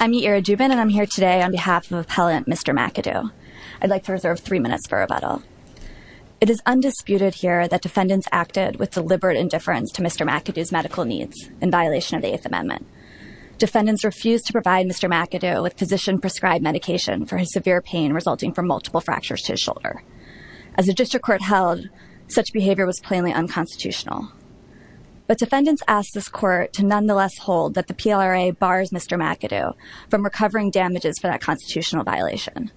I'm Yaira Jubin and I'm here today on behalf of Appellant Mr. McAdoo. I'd like to reserve three minutes for rebuttal. It is undisputed here that defendants acted with deliberate indifference to Mr. McAdoo's medical needs in violation of the Eighth Amendment. Defendants refused to provide Mr. McAdoo with physician-prescribed medication for his severe pain resulting from multiple fractures to his shoulder. As the district court held, such behavior was plainly unconstitutional. But defendants asked this court to nonetheless hold that the PLRA bars Mr. McAdoo from recovering damages for that constitutional violation.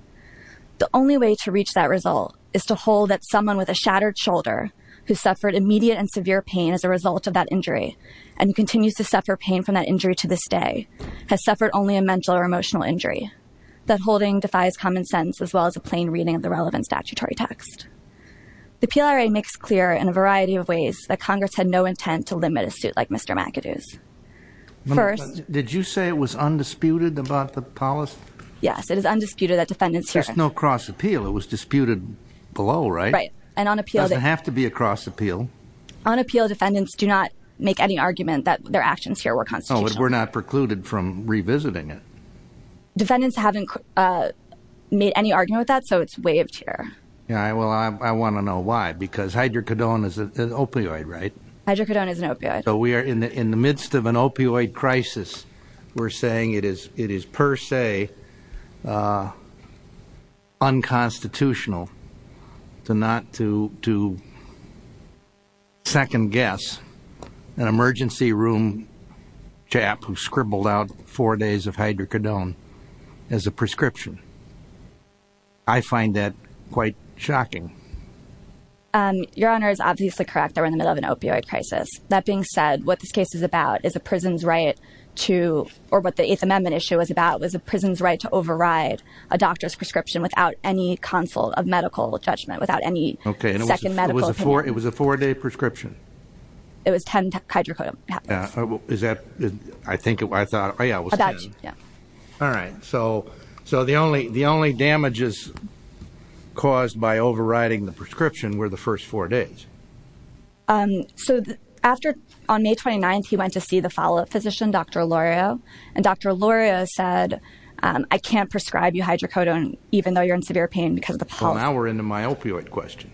The only way to reach that result is to hold that someone with a shattered shoulder who suffered immediate and severe pain as a result of that injury and continues to suffer pain from that injury to this day, has suffered only a mental or emotional injury. That holding defies common sense as well as a plain reading of the relevant statutory text. The PLRA makes clear in a variety of ways that Congress had no intent to limit a suit like Mr. McAdoo's. First- Did you say it was undisputed about the policy? Yes, it is undisputed that defendants here- There's no cross-appeal. It was disputed below, right? Right. And on appeal- It doesn't have to be a cross-appeal. On appeal, defendants do not make any argument that their actions here were constitutional. Oh, but we're not precluded from revisiting it. Defendants haven't made any argument with that, so it's waived here. Yeah, well, I want to know why, because hydrocodone is an opioid, right? Hydrocodone is an opioid. So we are in the midst of an opioid crisis. We're saying it is per se unconstitutional to not to second-guess an emergency room chap who scribbled out four days of hydrocodone as a prescription. I find that quite shocking. Your Honor is obviously correct. We're in the middle of an opioid crisis. That being said, what this case is about is a prison's right to- or what the Eighth Amendment issue was about was a prison's right to override a doctor's prescription without any counsel of medical judgment, without any second medical opinion. It was a four-day prescription? It was 10 hydrocodone- Is that- I think it was- I thought- Oh, yeah, it was 10. All right. So the only damages caused by overriding the prescription were the first four days. So after- on May 29th, he went to see the follow-up physician, Dr. Olorio, and Dr. Olorio said, I can't prescribe you hydrocodone even though you're in severe pain because of the policy. Well, now we're into my opioid question.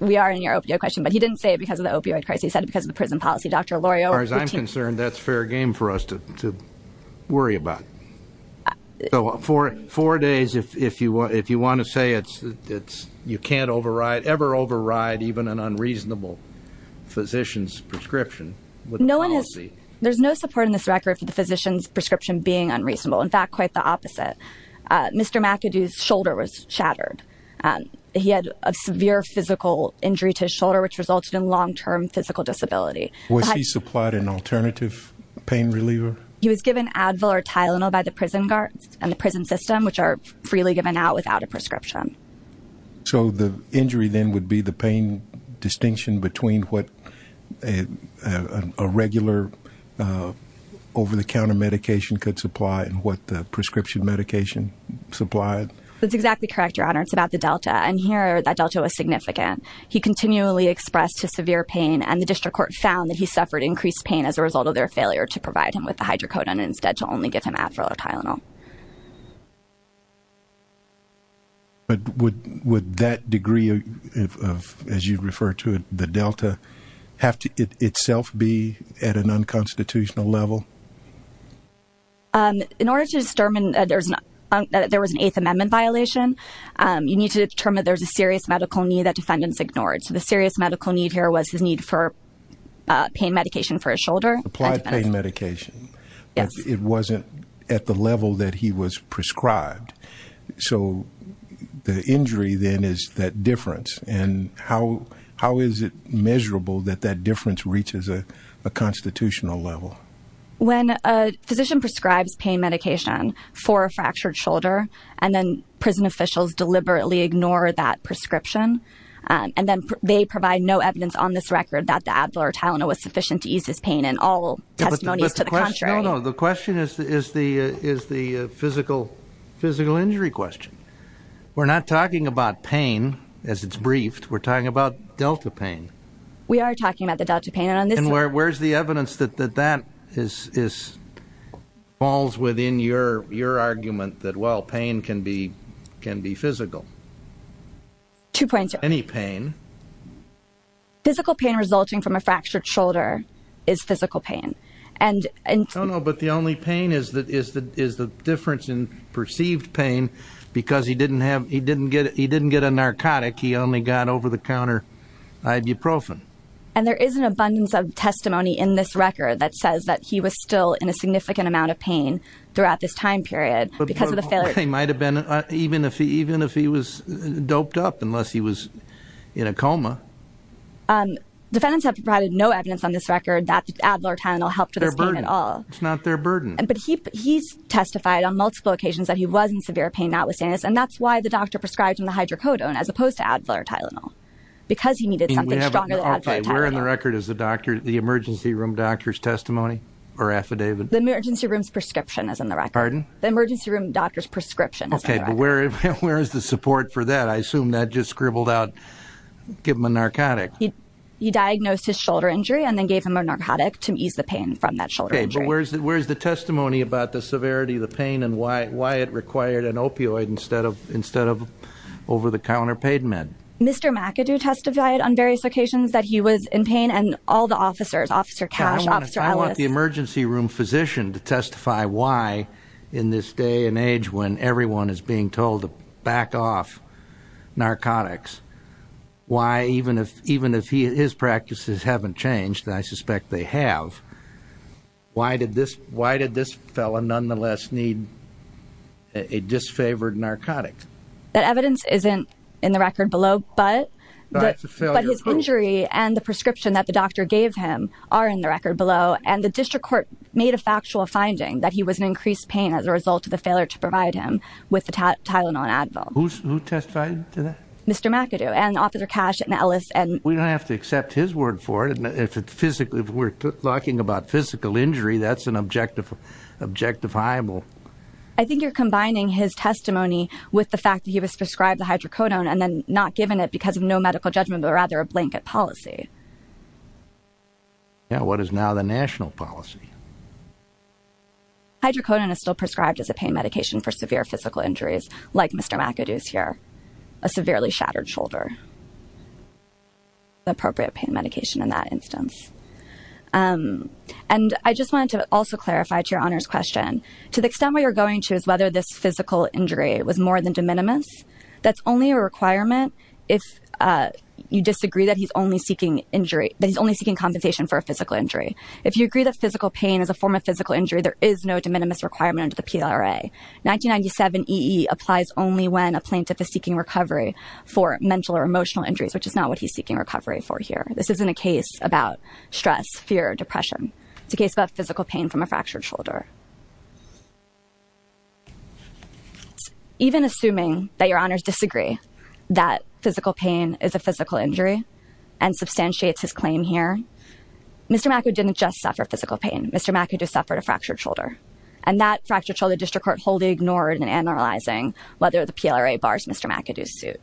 We are in your opioid question, but he didn't say it because of the opioid crisis. He said it because of the prison policy. Dr. Olorio- As far as I'm concerned, that's fair game for us to worry about. So four days, if you want to say it's- you can't override- ever override even an unreasonable physician's prescription with a policy- No one has- there's no support in this record for the physician's prescription being unreasonable. In fact, quite the opposite. Mr. McAdoo's shoulder was shattered. He had a severe physical injury to his shoulder, which resulted in long-term physical disability. Was he supplied an alternative pain reliever? He was given Advil or Tylenol by the prison guards and the prison system, which are freely given out without a prescription. So the injury then would be the pain distinction between what a regular over-the-counter medication could supply and what the prescription medication supplied? That's exactly correct, Your Honor. It's about the Delta. And here, that Delta was significant. It would increase pain as a result of their failure to provide him with the Hydrocodone and instead to only give him Advil or Tylenol. But would that degree of, as you refer to it, the Delta, have to itself be at an unconstitutional level? In order to determine that there was an Eighth Amendment violation, you need to determine there's a serious medical need that defendants ignored. So the serious medical need here was his need for pain medication for his shoulder. Applied pain medication. Yes. But it wasn't at the level that he was prescribed. So the injury then is that difference. And how is it measurable that that difference reaches a constitutional level? When a physician prescribes pain medication for a fractured shoulder and then prison officials deliberately ignore that prescription and then they provide no evidence on this record that the Advil or Tylenol was sufficient to ease his pain and all testimonies to the contrary. No, no. The question is the physical injury question. We're not talking about pain as it's briefed. We're talking about Delta pain. We are talking about the Delta pain. And where's the evidence that that falls within your argument that, well, pain can be physical? Any pain. Physical pain resulting from a fractured shoulder is physical pain. No, no. But the only pain is the difference in perceived pain because he didn't get a narcotic. He only got over-the-counter ibuprofen. And there is an abundance of testimony in this record that says that he was still in a significant amount of pain throughout this time period because of the failure. They might have been even if he was doped up unless he was in a coma. Defendants have provided no evidence on this record that Advil or Tylenol helped with his pain at all. It's not their burden. But he's testified on multiple occasions that he was in severe pain, not with sinus, and that's why the doctor prescribed him the hydrocodone as opposed to Advil or Tylenol, because he needed something stronger than Advil or Tylenol. Okay. Where in the record is the emergency room doctor's testimony or affidavit? The emergency room's prescription is in the record. Pardon? The emergency room doctor's prescription is in the record. Okay. But where is the support for that? I assume that just scribbled out, give him a narcotic. He diagnosed his shoulder injury and then gave him a narcotic to ease the pain from that shoulder injury. Okay. But where is the testimony about the severity of the pain and why it required an opioid instead of over-the-counter pain meds? Mr. McAdoo testified on various occasions that he was in pain and all the officers, Officer Cash, Officer Ellis. I want the emergency room physician to testify why in this day and age when everyone is being told to back off narcotics, why even if his practices haven't changed, and I suspect they have, why did this fellow nonetheless need a disfavored narcotic? That evidence isn't in the record below, but his injury and the prescription that the doctor gave him are in the record below, and the district court made a factual finding that he was in increased pain as a result of the failure to provide him with the Tylenol and Advil. Who testified to that? Mr. McAdoo and Officer Cash and Ellis. We don't have to accept his word for it. If we're talking about physical injury, that's an objectifiable. I think you're combining his testimony with the fact that he was prescribed the hydrocodone and then not given it because of no medical judgment, but rather a blanket policy. Yeah, what is now the national policy? Hydrocodone is still prescribed as a pain medication for severe physical injuries, like Mr. McAdoo's here, a severely shattered shoulder. Appropriate pain medication in that instance. And I just wanted to also clarify to Your Honor's question, to the extent where you're going to is whether this physical injury was more than de minimis. That's only a requirement if you disagree that he's only seeking injury, that he's only seeking compensation for a physical injury. If you agree that physical pain is a form of physical injury, there is no de minimis requirement under the PLRA. 1997 EE applies only when a plaintiff is seeking recovery for mental or emotional injuries, which is not what he's seeking recovery for here. This isn't a case about stress, fear, or depression. It's a case about physical pain from a fractured shoulder. Even assuming that Your Honor's disagree that physical pain is a physical injury and substantiates his claim here, Mr. McAdoo didn't just suffer physical pain. Mr. McAdoo suffered a fractured shoulder. And that fractured shoulder, the district court wholly ignored in analyzing whether the PLRA bars Mr. McAdoo's suit.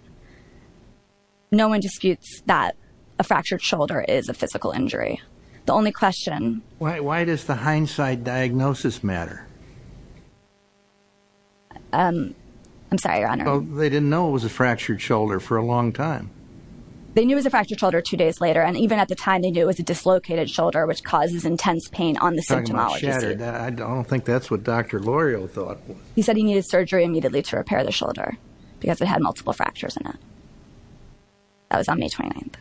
No one disputes that a fractured shoulder is a physical injury. The only question... Why does the hindsight diagnosis matter? I'm sorry, Your Honor. They didn't know it was a fractured shoulder for a long time. They knew it was a fractured shoulder two days later. And even at the time, they knew it was a dislocated shoulder, which causes intense pain on the symptomology suit. I don't think that's what Dr. Lorio thought. He said he needed surgery immediately to repair the shoulder because it had multiple fractures in it. That was on May 29th.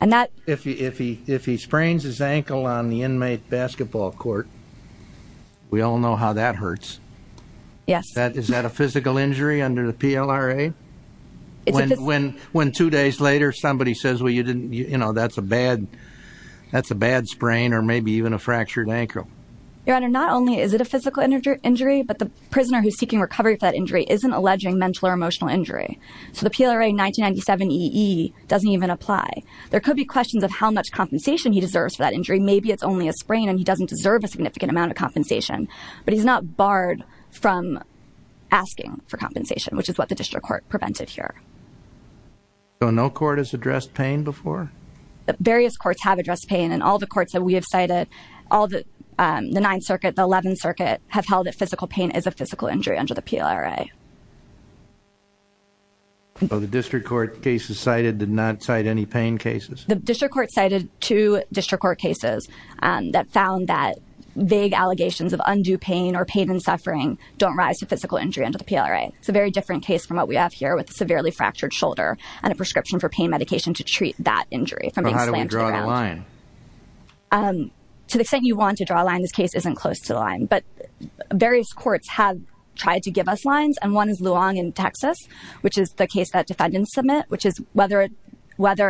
And that... If he sprains his ankle on the inmate basketball court, we all know how that hurts. Yes. Is that a physical injury under the PLRA? When two days later somebody says, well, you know, that's a bad sprain or maybe even a fractured ankle. Your Honor, not only is it a physical injury, but the prisoner who's seeking recovery for that injury isn't alleging mental or emotional injury. So the PLRA 1997 EE doesn't even apply. There could be questions of how much compensation he deserves for that injury. Maybe it's only a sprain and he doesn't deserve a significant amount of compensation. But he's not barred from asking for compensation, which is what the district court prevented here. So no court has addressed pain before? Various courts have addressed pain. And all the courts that we have cited, all the 9th Circuit, the 11th Circuit, have held that physical pain is a physical injury under the PLRA. So the district court cases cited did not cite any pain cases? The district court cited two district court cases that found that vague allegations of undue pain or pain and suffering don't rise to physical injury under the PLRA. It's a very different case from what we have here with a severely fractured shoulder and a prescription for pain medication to treat that injury from being slammed to the ground. So how do we draw the line? To the extent you want to draw a line, this case isn't close to the line. And one is Luong in Texas, which is the case that defendants submit, which is whether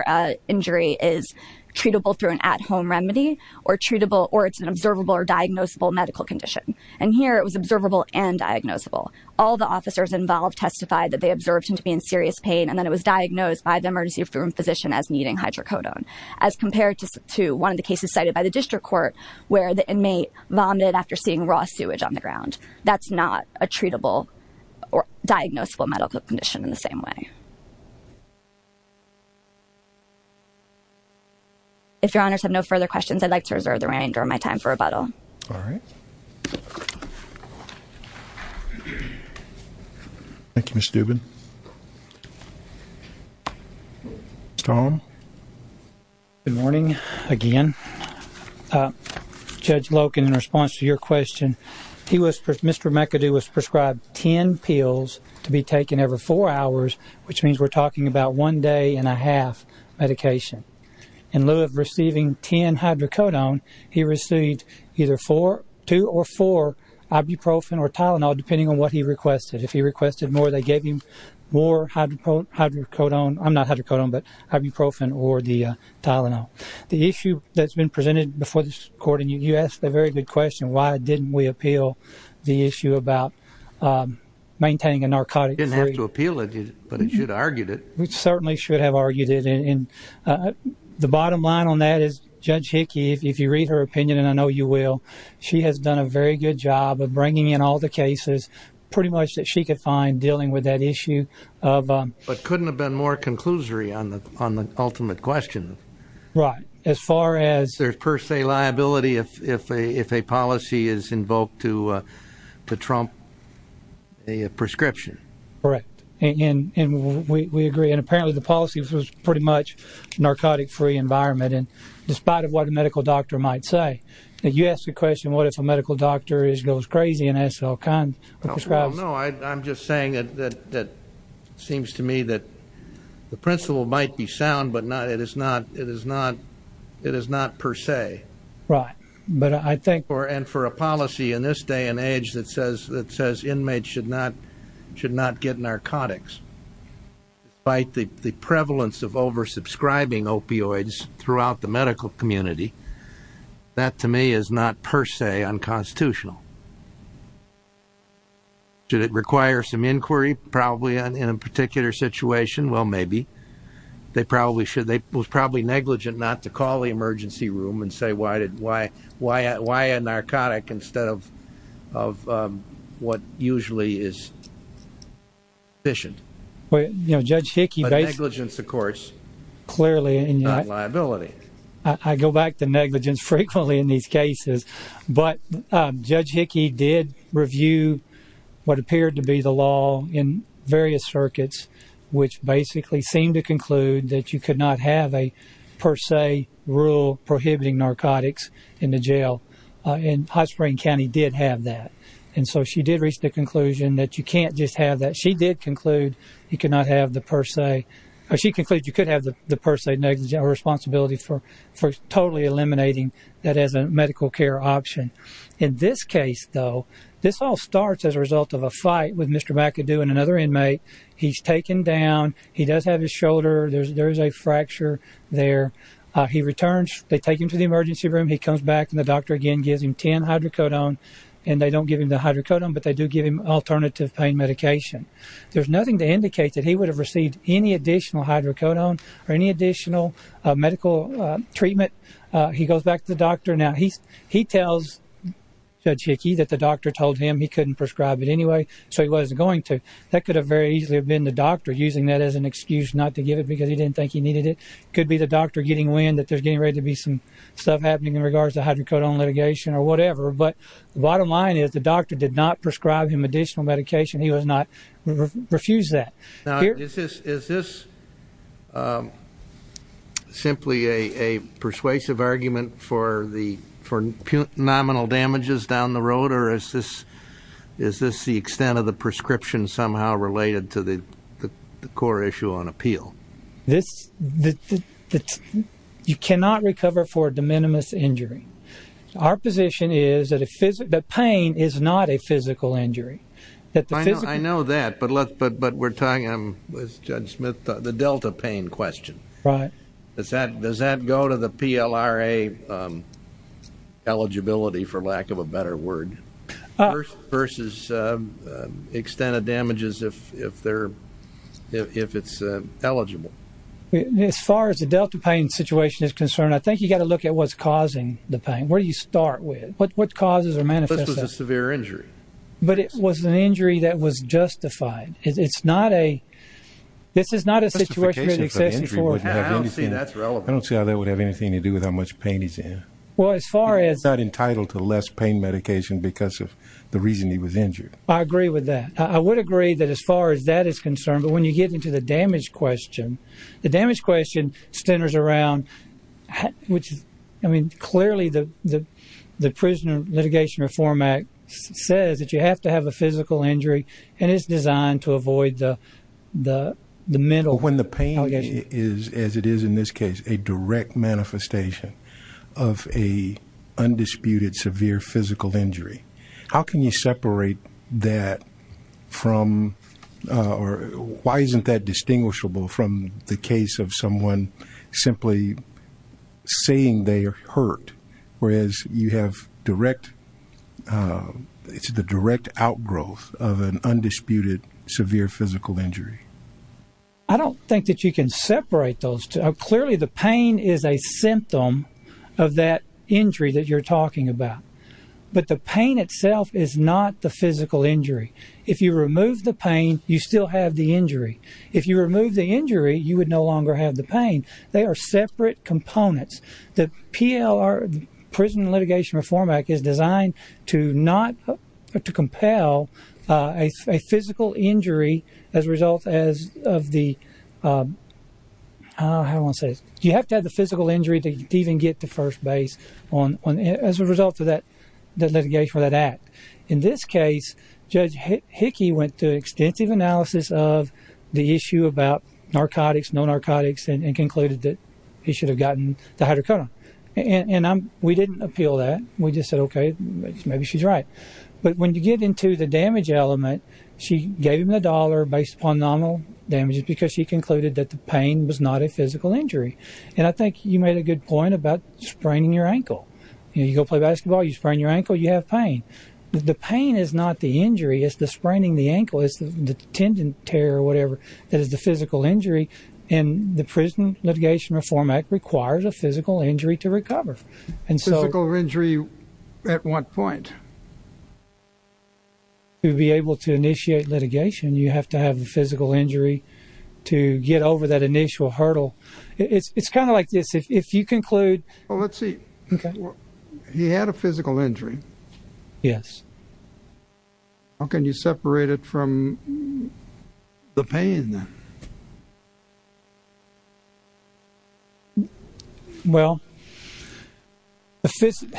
an injury is treatable through an at-home remedy or it's an observable or diagnosable medical condition. And here it was observable and diagnosable. All the officers involved testified that they observed him to be in serious pain and that it was diagnosed by the emergency room physician as needing hydrocodone. As compared to one of the cases cited by the district court where the inmate vomited after seeing raw sewage on the ground. That's not a treatable or diagnosable medical condition in the same way. If your honors have no further questions, I'd like to reserve the rest of my time for rebuttal. All right. Thank you, Ms. Dubin. Tom. Good morning again. Judge Loken, in response to your question, Mr. McAdoo was prescribed ten pills to be taken every four hours, which means we're talking about one day and a half medication. In lieu of receiving ten hydrocodone, he received either two or four ibuprofen or Tylenol, depending on what he requested. If he requested more, they gave him more hydrocodone. I'm not hydrocodone, but ibuprofen or the Tylenol. The issue that's been presented before this court, and you asked a very good question, why didn't we appeal the issue about maintaining a narcotic? Didn't have to appeal it, but it should have argued it. We certainly should have argued it. And the bottom line on that is Judge Hickey, if you read her opinion, and I know you will, she has done a very good job of bringing in all the cases pretty much that she could find dealing with that issue. But couldn't have been more conclusory on the ultimate question. Right. As far as... There's per se liability if a policy is invoked to trump a prescription. Correct. And we agree. And apparently the policy was pretty much narcotic-free environment, and despite of what a medical doctor might say. And you asked the question, what if a medical doctor goes crazy and has all kinds of prescriptions? No, I'm just saying that it seems to me that the principle might be sound, but it is not per se. Right. And for a policy in this day and age that says inmates should not get narcotics, despite the prevalence of over-subscribing opioids throughout the medical community, that to me is not per se unconstitutional. Should it require some inquiry, probably in a particular situation? Well, maybe. They probably should. It was probably negligent not to call the emergency room and say, why a narcotic instead of what usually is sufficient. Judge Hickey... But negligence, of course, not liability. I go back to negligence frequently in these cases. But Judge Hickey did review what appeared to be the law in various circuits, which basically seemed to conclude that you could not have a per se rule prohibiting narcotics in the jail. And High Spring County did have that. And so she did reach the conclusion that you can't just have that. She did conclude you could have the per se responsibility for totally eliminating that as a medical care option. In this case, though, this all starts as a result of a fight with Mr. McAdoo and another inmate. He's taken down. He does have his shoulder. There is a fracture there. He returns. They take him to the emergency room. He comes back. And the doctor, again, gives him 10 hydrocodone. And they don't give him the hydrocodone, but they do give him alternative pain medication. There's nothing to indicate that he would have received any additional hydrocodone or any additional medical treatment. He goes back to the doctor. Now, he tells Judge Hickey that the doctor told him he couldn't prescribe it anyway, so he wasn't going to. That could have very easily have been the doctor using that as an excuse not to give it because he didn't think he needed it. It could be the doctor getting wind that there's getting ready to be some stuff happening in regards to hydrocodone litigation or whatever. But the bottom line is the doctor did not prescribe him additional medication. He refused that. Now, is this simply a persuasive argument for nominal damages down the road, or is this the extent of the prescription somehow related to the core issue on appeal? You cannot recover for a de minimis injury. Our position is that pain is not a physical injury. I know that, but we're talking, Judge Smith, the delta pain question. Right. Does that go to the PLRA eligibility, for lack of a better word, versus extent of damages if it's eligible? As far as the delta pain situation is concerned, I think you've got to look at what's causing the pain. Where do you start with? What causes or manifests that? This was a severe injury. But it was an injury that was justified. This is not a situation where the excessive force would have anything. I don't see how that would have anything to do with how much pain he's in. He's not entitled to less pain medication because of the reason he was injured. I agree with that. I would agree that as far as that is concerned, but when you get into the damage question, the damage question centers around, which is, I mean, clearly the Prisoner Litigation Reform Act says that you have to have a physical injury, and it's designed to avoid the mental. When the pain is, as it is in this case, a direct manifestation of an undisputed severe physical injury, how can you separate that from, or why isn't that distinguishable from the case of someone simply saying they are hurt, whereas you have direct, it's the direct outgrowth of an undisputed severe physical injury? I don't think that you can separate those two. Clearly the pain is a symptom of that injury that you're talking about. But the pain itself is not the physical injury. If you remove the pain, you still have the injury. If you remove the injury, you would no longer have the pain. They are separate components. The Prison Litigation Reform Act is designed to not, to compel a physical injury as a result of the, how do I want to say this? You have to have the physical injury to even get to first base as a result of that litigation or that act. In this case, Judge Hickey went through extensive analysis of the issue about narcotics, no narcotics, and concluded that he should have gotten the hydrocodone. And we didn't appeal that. We just said, okay, maybe she's right. But when you get into the damage element, she gave him the dollar based upon nominal damages because she concluded that the pain was not a physical injury. And I think you made a good point about spraining your ankle. You go play basketball, you sprain your ankle, you have pain. The pain is not the injury. It's the spraining the ankle. It's the tendon tear or whatever that is the physical injury. And the Prison Litigation Reform Act requires a physical injury to recover. Physical injury at what point? To be able to initiate litigation, you have to have a physical injury to get over that initial hurdle. It's kind of like this. If you conclude... Well, let's see. Okay. He had a physical injury. Yes. How can you separate it from the pain? Well, the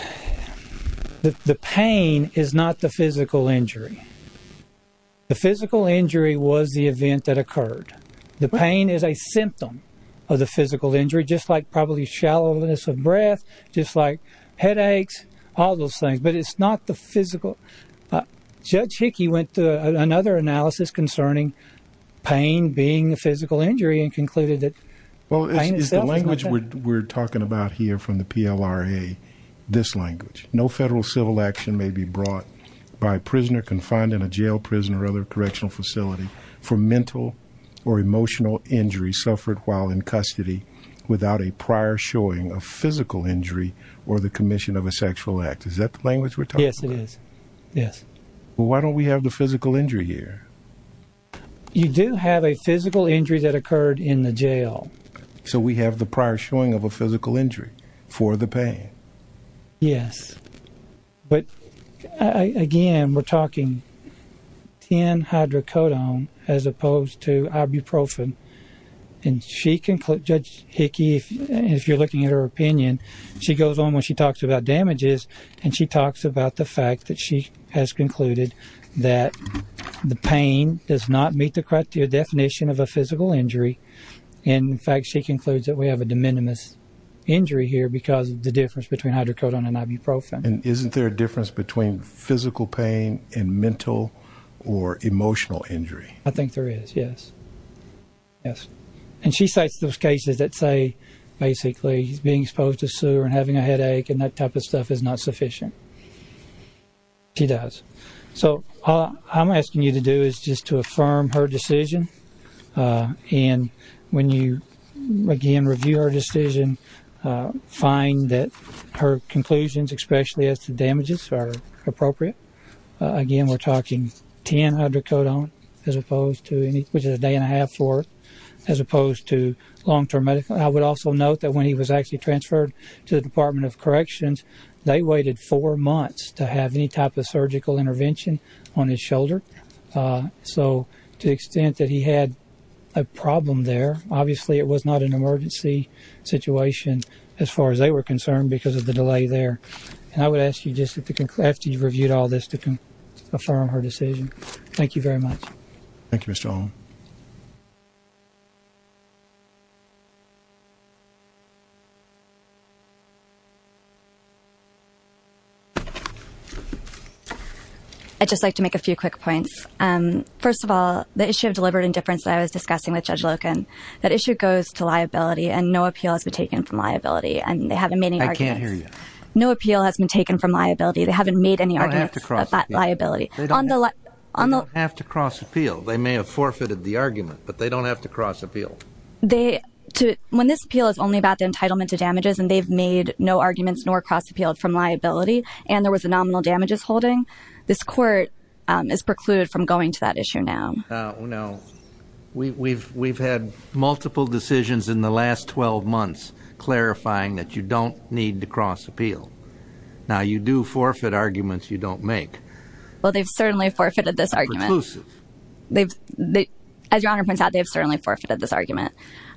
pain is not the physical injury. The physical injury was the event that occurred. The pain is a symptom of the physical injury, just like probably shallowness of breath, just like headaches, all those things. But it's not the physical. Judge Hickey went through another analysis concerning pain being a physical injury and concluded that pain itself is not that. Well, is the language we're talking about here from the PLRA this language? No federal civil action may be brought by a prisoner confined in a jail, prison, or other correctional facility for mental or emotional injury suffered while in custody without a prior showing of physical injury or the commission of a sexual act. Is that the language we're talking about? Yes, it is. Yes. Well, why don't we have the physical injury here? You do have a physical injury that occurred in the jail. So we have the prior showing of a physical injury for the pain. Yes. But, again, we're talking 10-hydrocodone as opposed to ibuprofen. And Judge Hickey, if you're looking at her opinion, she goes on when she talks about damages, and she talks about the fact that she has concluded that the pain does not meet the correct definition of a physical injury. In fact, she concludes that we have a de minimis injury here because of the difference between hydrocodone and ibuprofen. And isn't there a difference between physical pain and mental or emotional injury? I think there is, yes. Yes. And she cites those cases that say, basically, he's being exposed to sewer and having a headache, and that type of stuff is not sufficient. She does. So all I'm asking you to do is just to affirm her decision. And when you, again, review her decision, find that her conclusions, especially as to damages, are appropriate. Again, we're talking 10-hydrocodone, which is a day and a half for it, as opposed to long-term medical. I would also note that when he was actually transferred to the Department of Corrections, they waited four months to have any type of surgical intervention on his shoulder. So to the extent that he had a problem there, obviously it was not an emergency situation as far as they were concerned because of the delay there. And I would ask you just after you've reviewed all this to affirm her decision. Thank you very much. Thank you, Mr. O'Connell. I'd just like to make a few quick points. First of all, the issue of deliberate indifference that I was discussing with Judge Loken, that issue goes to liability and no appeal has been taken from liability, and they haven't made any arguments. I can't hear you. No appeal has been taken from liability. They haven't made any arguments about liability. They don't have to cross appeal. They may have forfeited the argument, but they don't have to cross appeal. When this appeal is only about the entitlement to damages, and they've made no arguments nor cross appealed from liability, and there was a nominal damages holding, this court is precluded from going to that issue now. We've had multiple decisions in the last 12 months clarifying that you don't need to cross appeal. Now, you do forfeit arguments you don't make. Well, they've certainly forfeited this argument. Preclusive. As Your Honor points out, they've certainly forfeited this argument.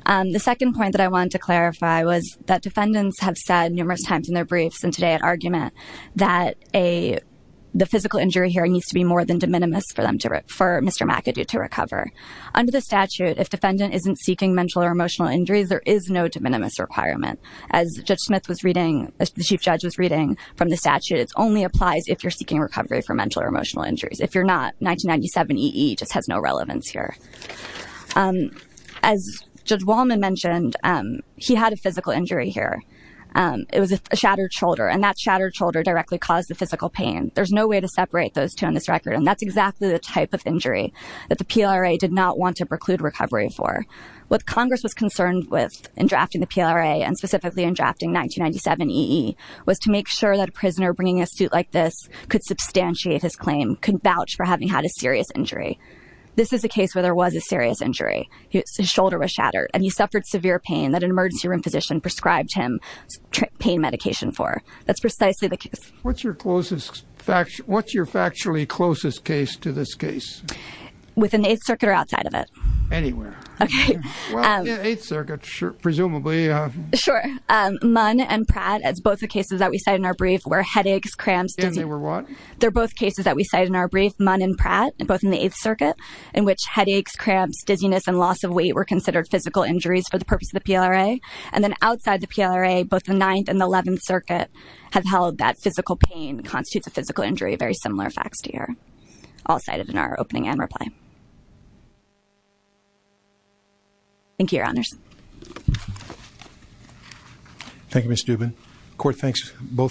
The second point that I wanted to clarify was that defendants have said numerous times in their briefs and today at argument that the physical injury hearing needs to be more than de minimis for Mr. McAdoo to recover. Under the statute, if defendant isn't seeking mental or emotional injuries, there is no de minimis requirement. As Judge Smith was reading, as the Chief Judge was reading from the statute, it only applies if you're seeking recovery for mental or emotional injuries. If you're not, 1997 EE just has no relevance here. As Judge Wallman mentioned, he had a physical injury here. It was a shattered shoulder, and that shattered shoulder directly caused the physical pain. There's no way to separate those two on this record, and that's exactly the type of injury that the PLRA did not want to preclude recovery for. What Congress was concerned with in drafting the PLRA and specifically in drafting a suit like this could substantiate his claim, could vouch for having had a serious injury. This is a case where there was a serious injury. His shoulder was shattered, and he suffered severe pain that an emergency room physician prescribed him pain medication for. That's precisely the case. What's your closest, what's your factually closest case to this case? Within the Eighth Circuit or outside of it? Anywhere. Okay. Eighth Circuit, presumably. Sure. Munn and Pratt, as both the cases that we cited in our brief, where headaches, cramps, dizziness. And they were what? They're both cases that we cited in our brief, Munn and Pratt, both in the Eighth Circuit, in which headaches, cramps, dizziness, and loss of weight were considered physical injuries for the purpose of the PLRA. And then outside the PLRA, both the Ninth and the Eleventh Circuit have held that physical pain constitutes a physical injury, very similar facts to yours. All cited in our opening and reply. Thank you, Your Honors. Thank you, Ms. Dubin.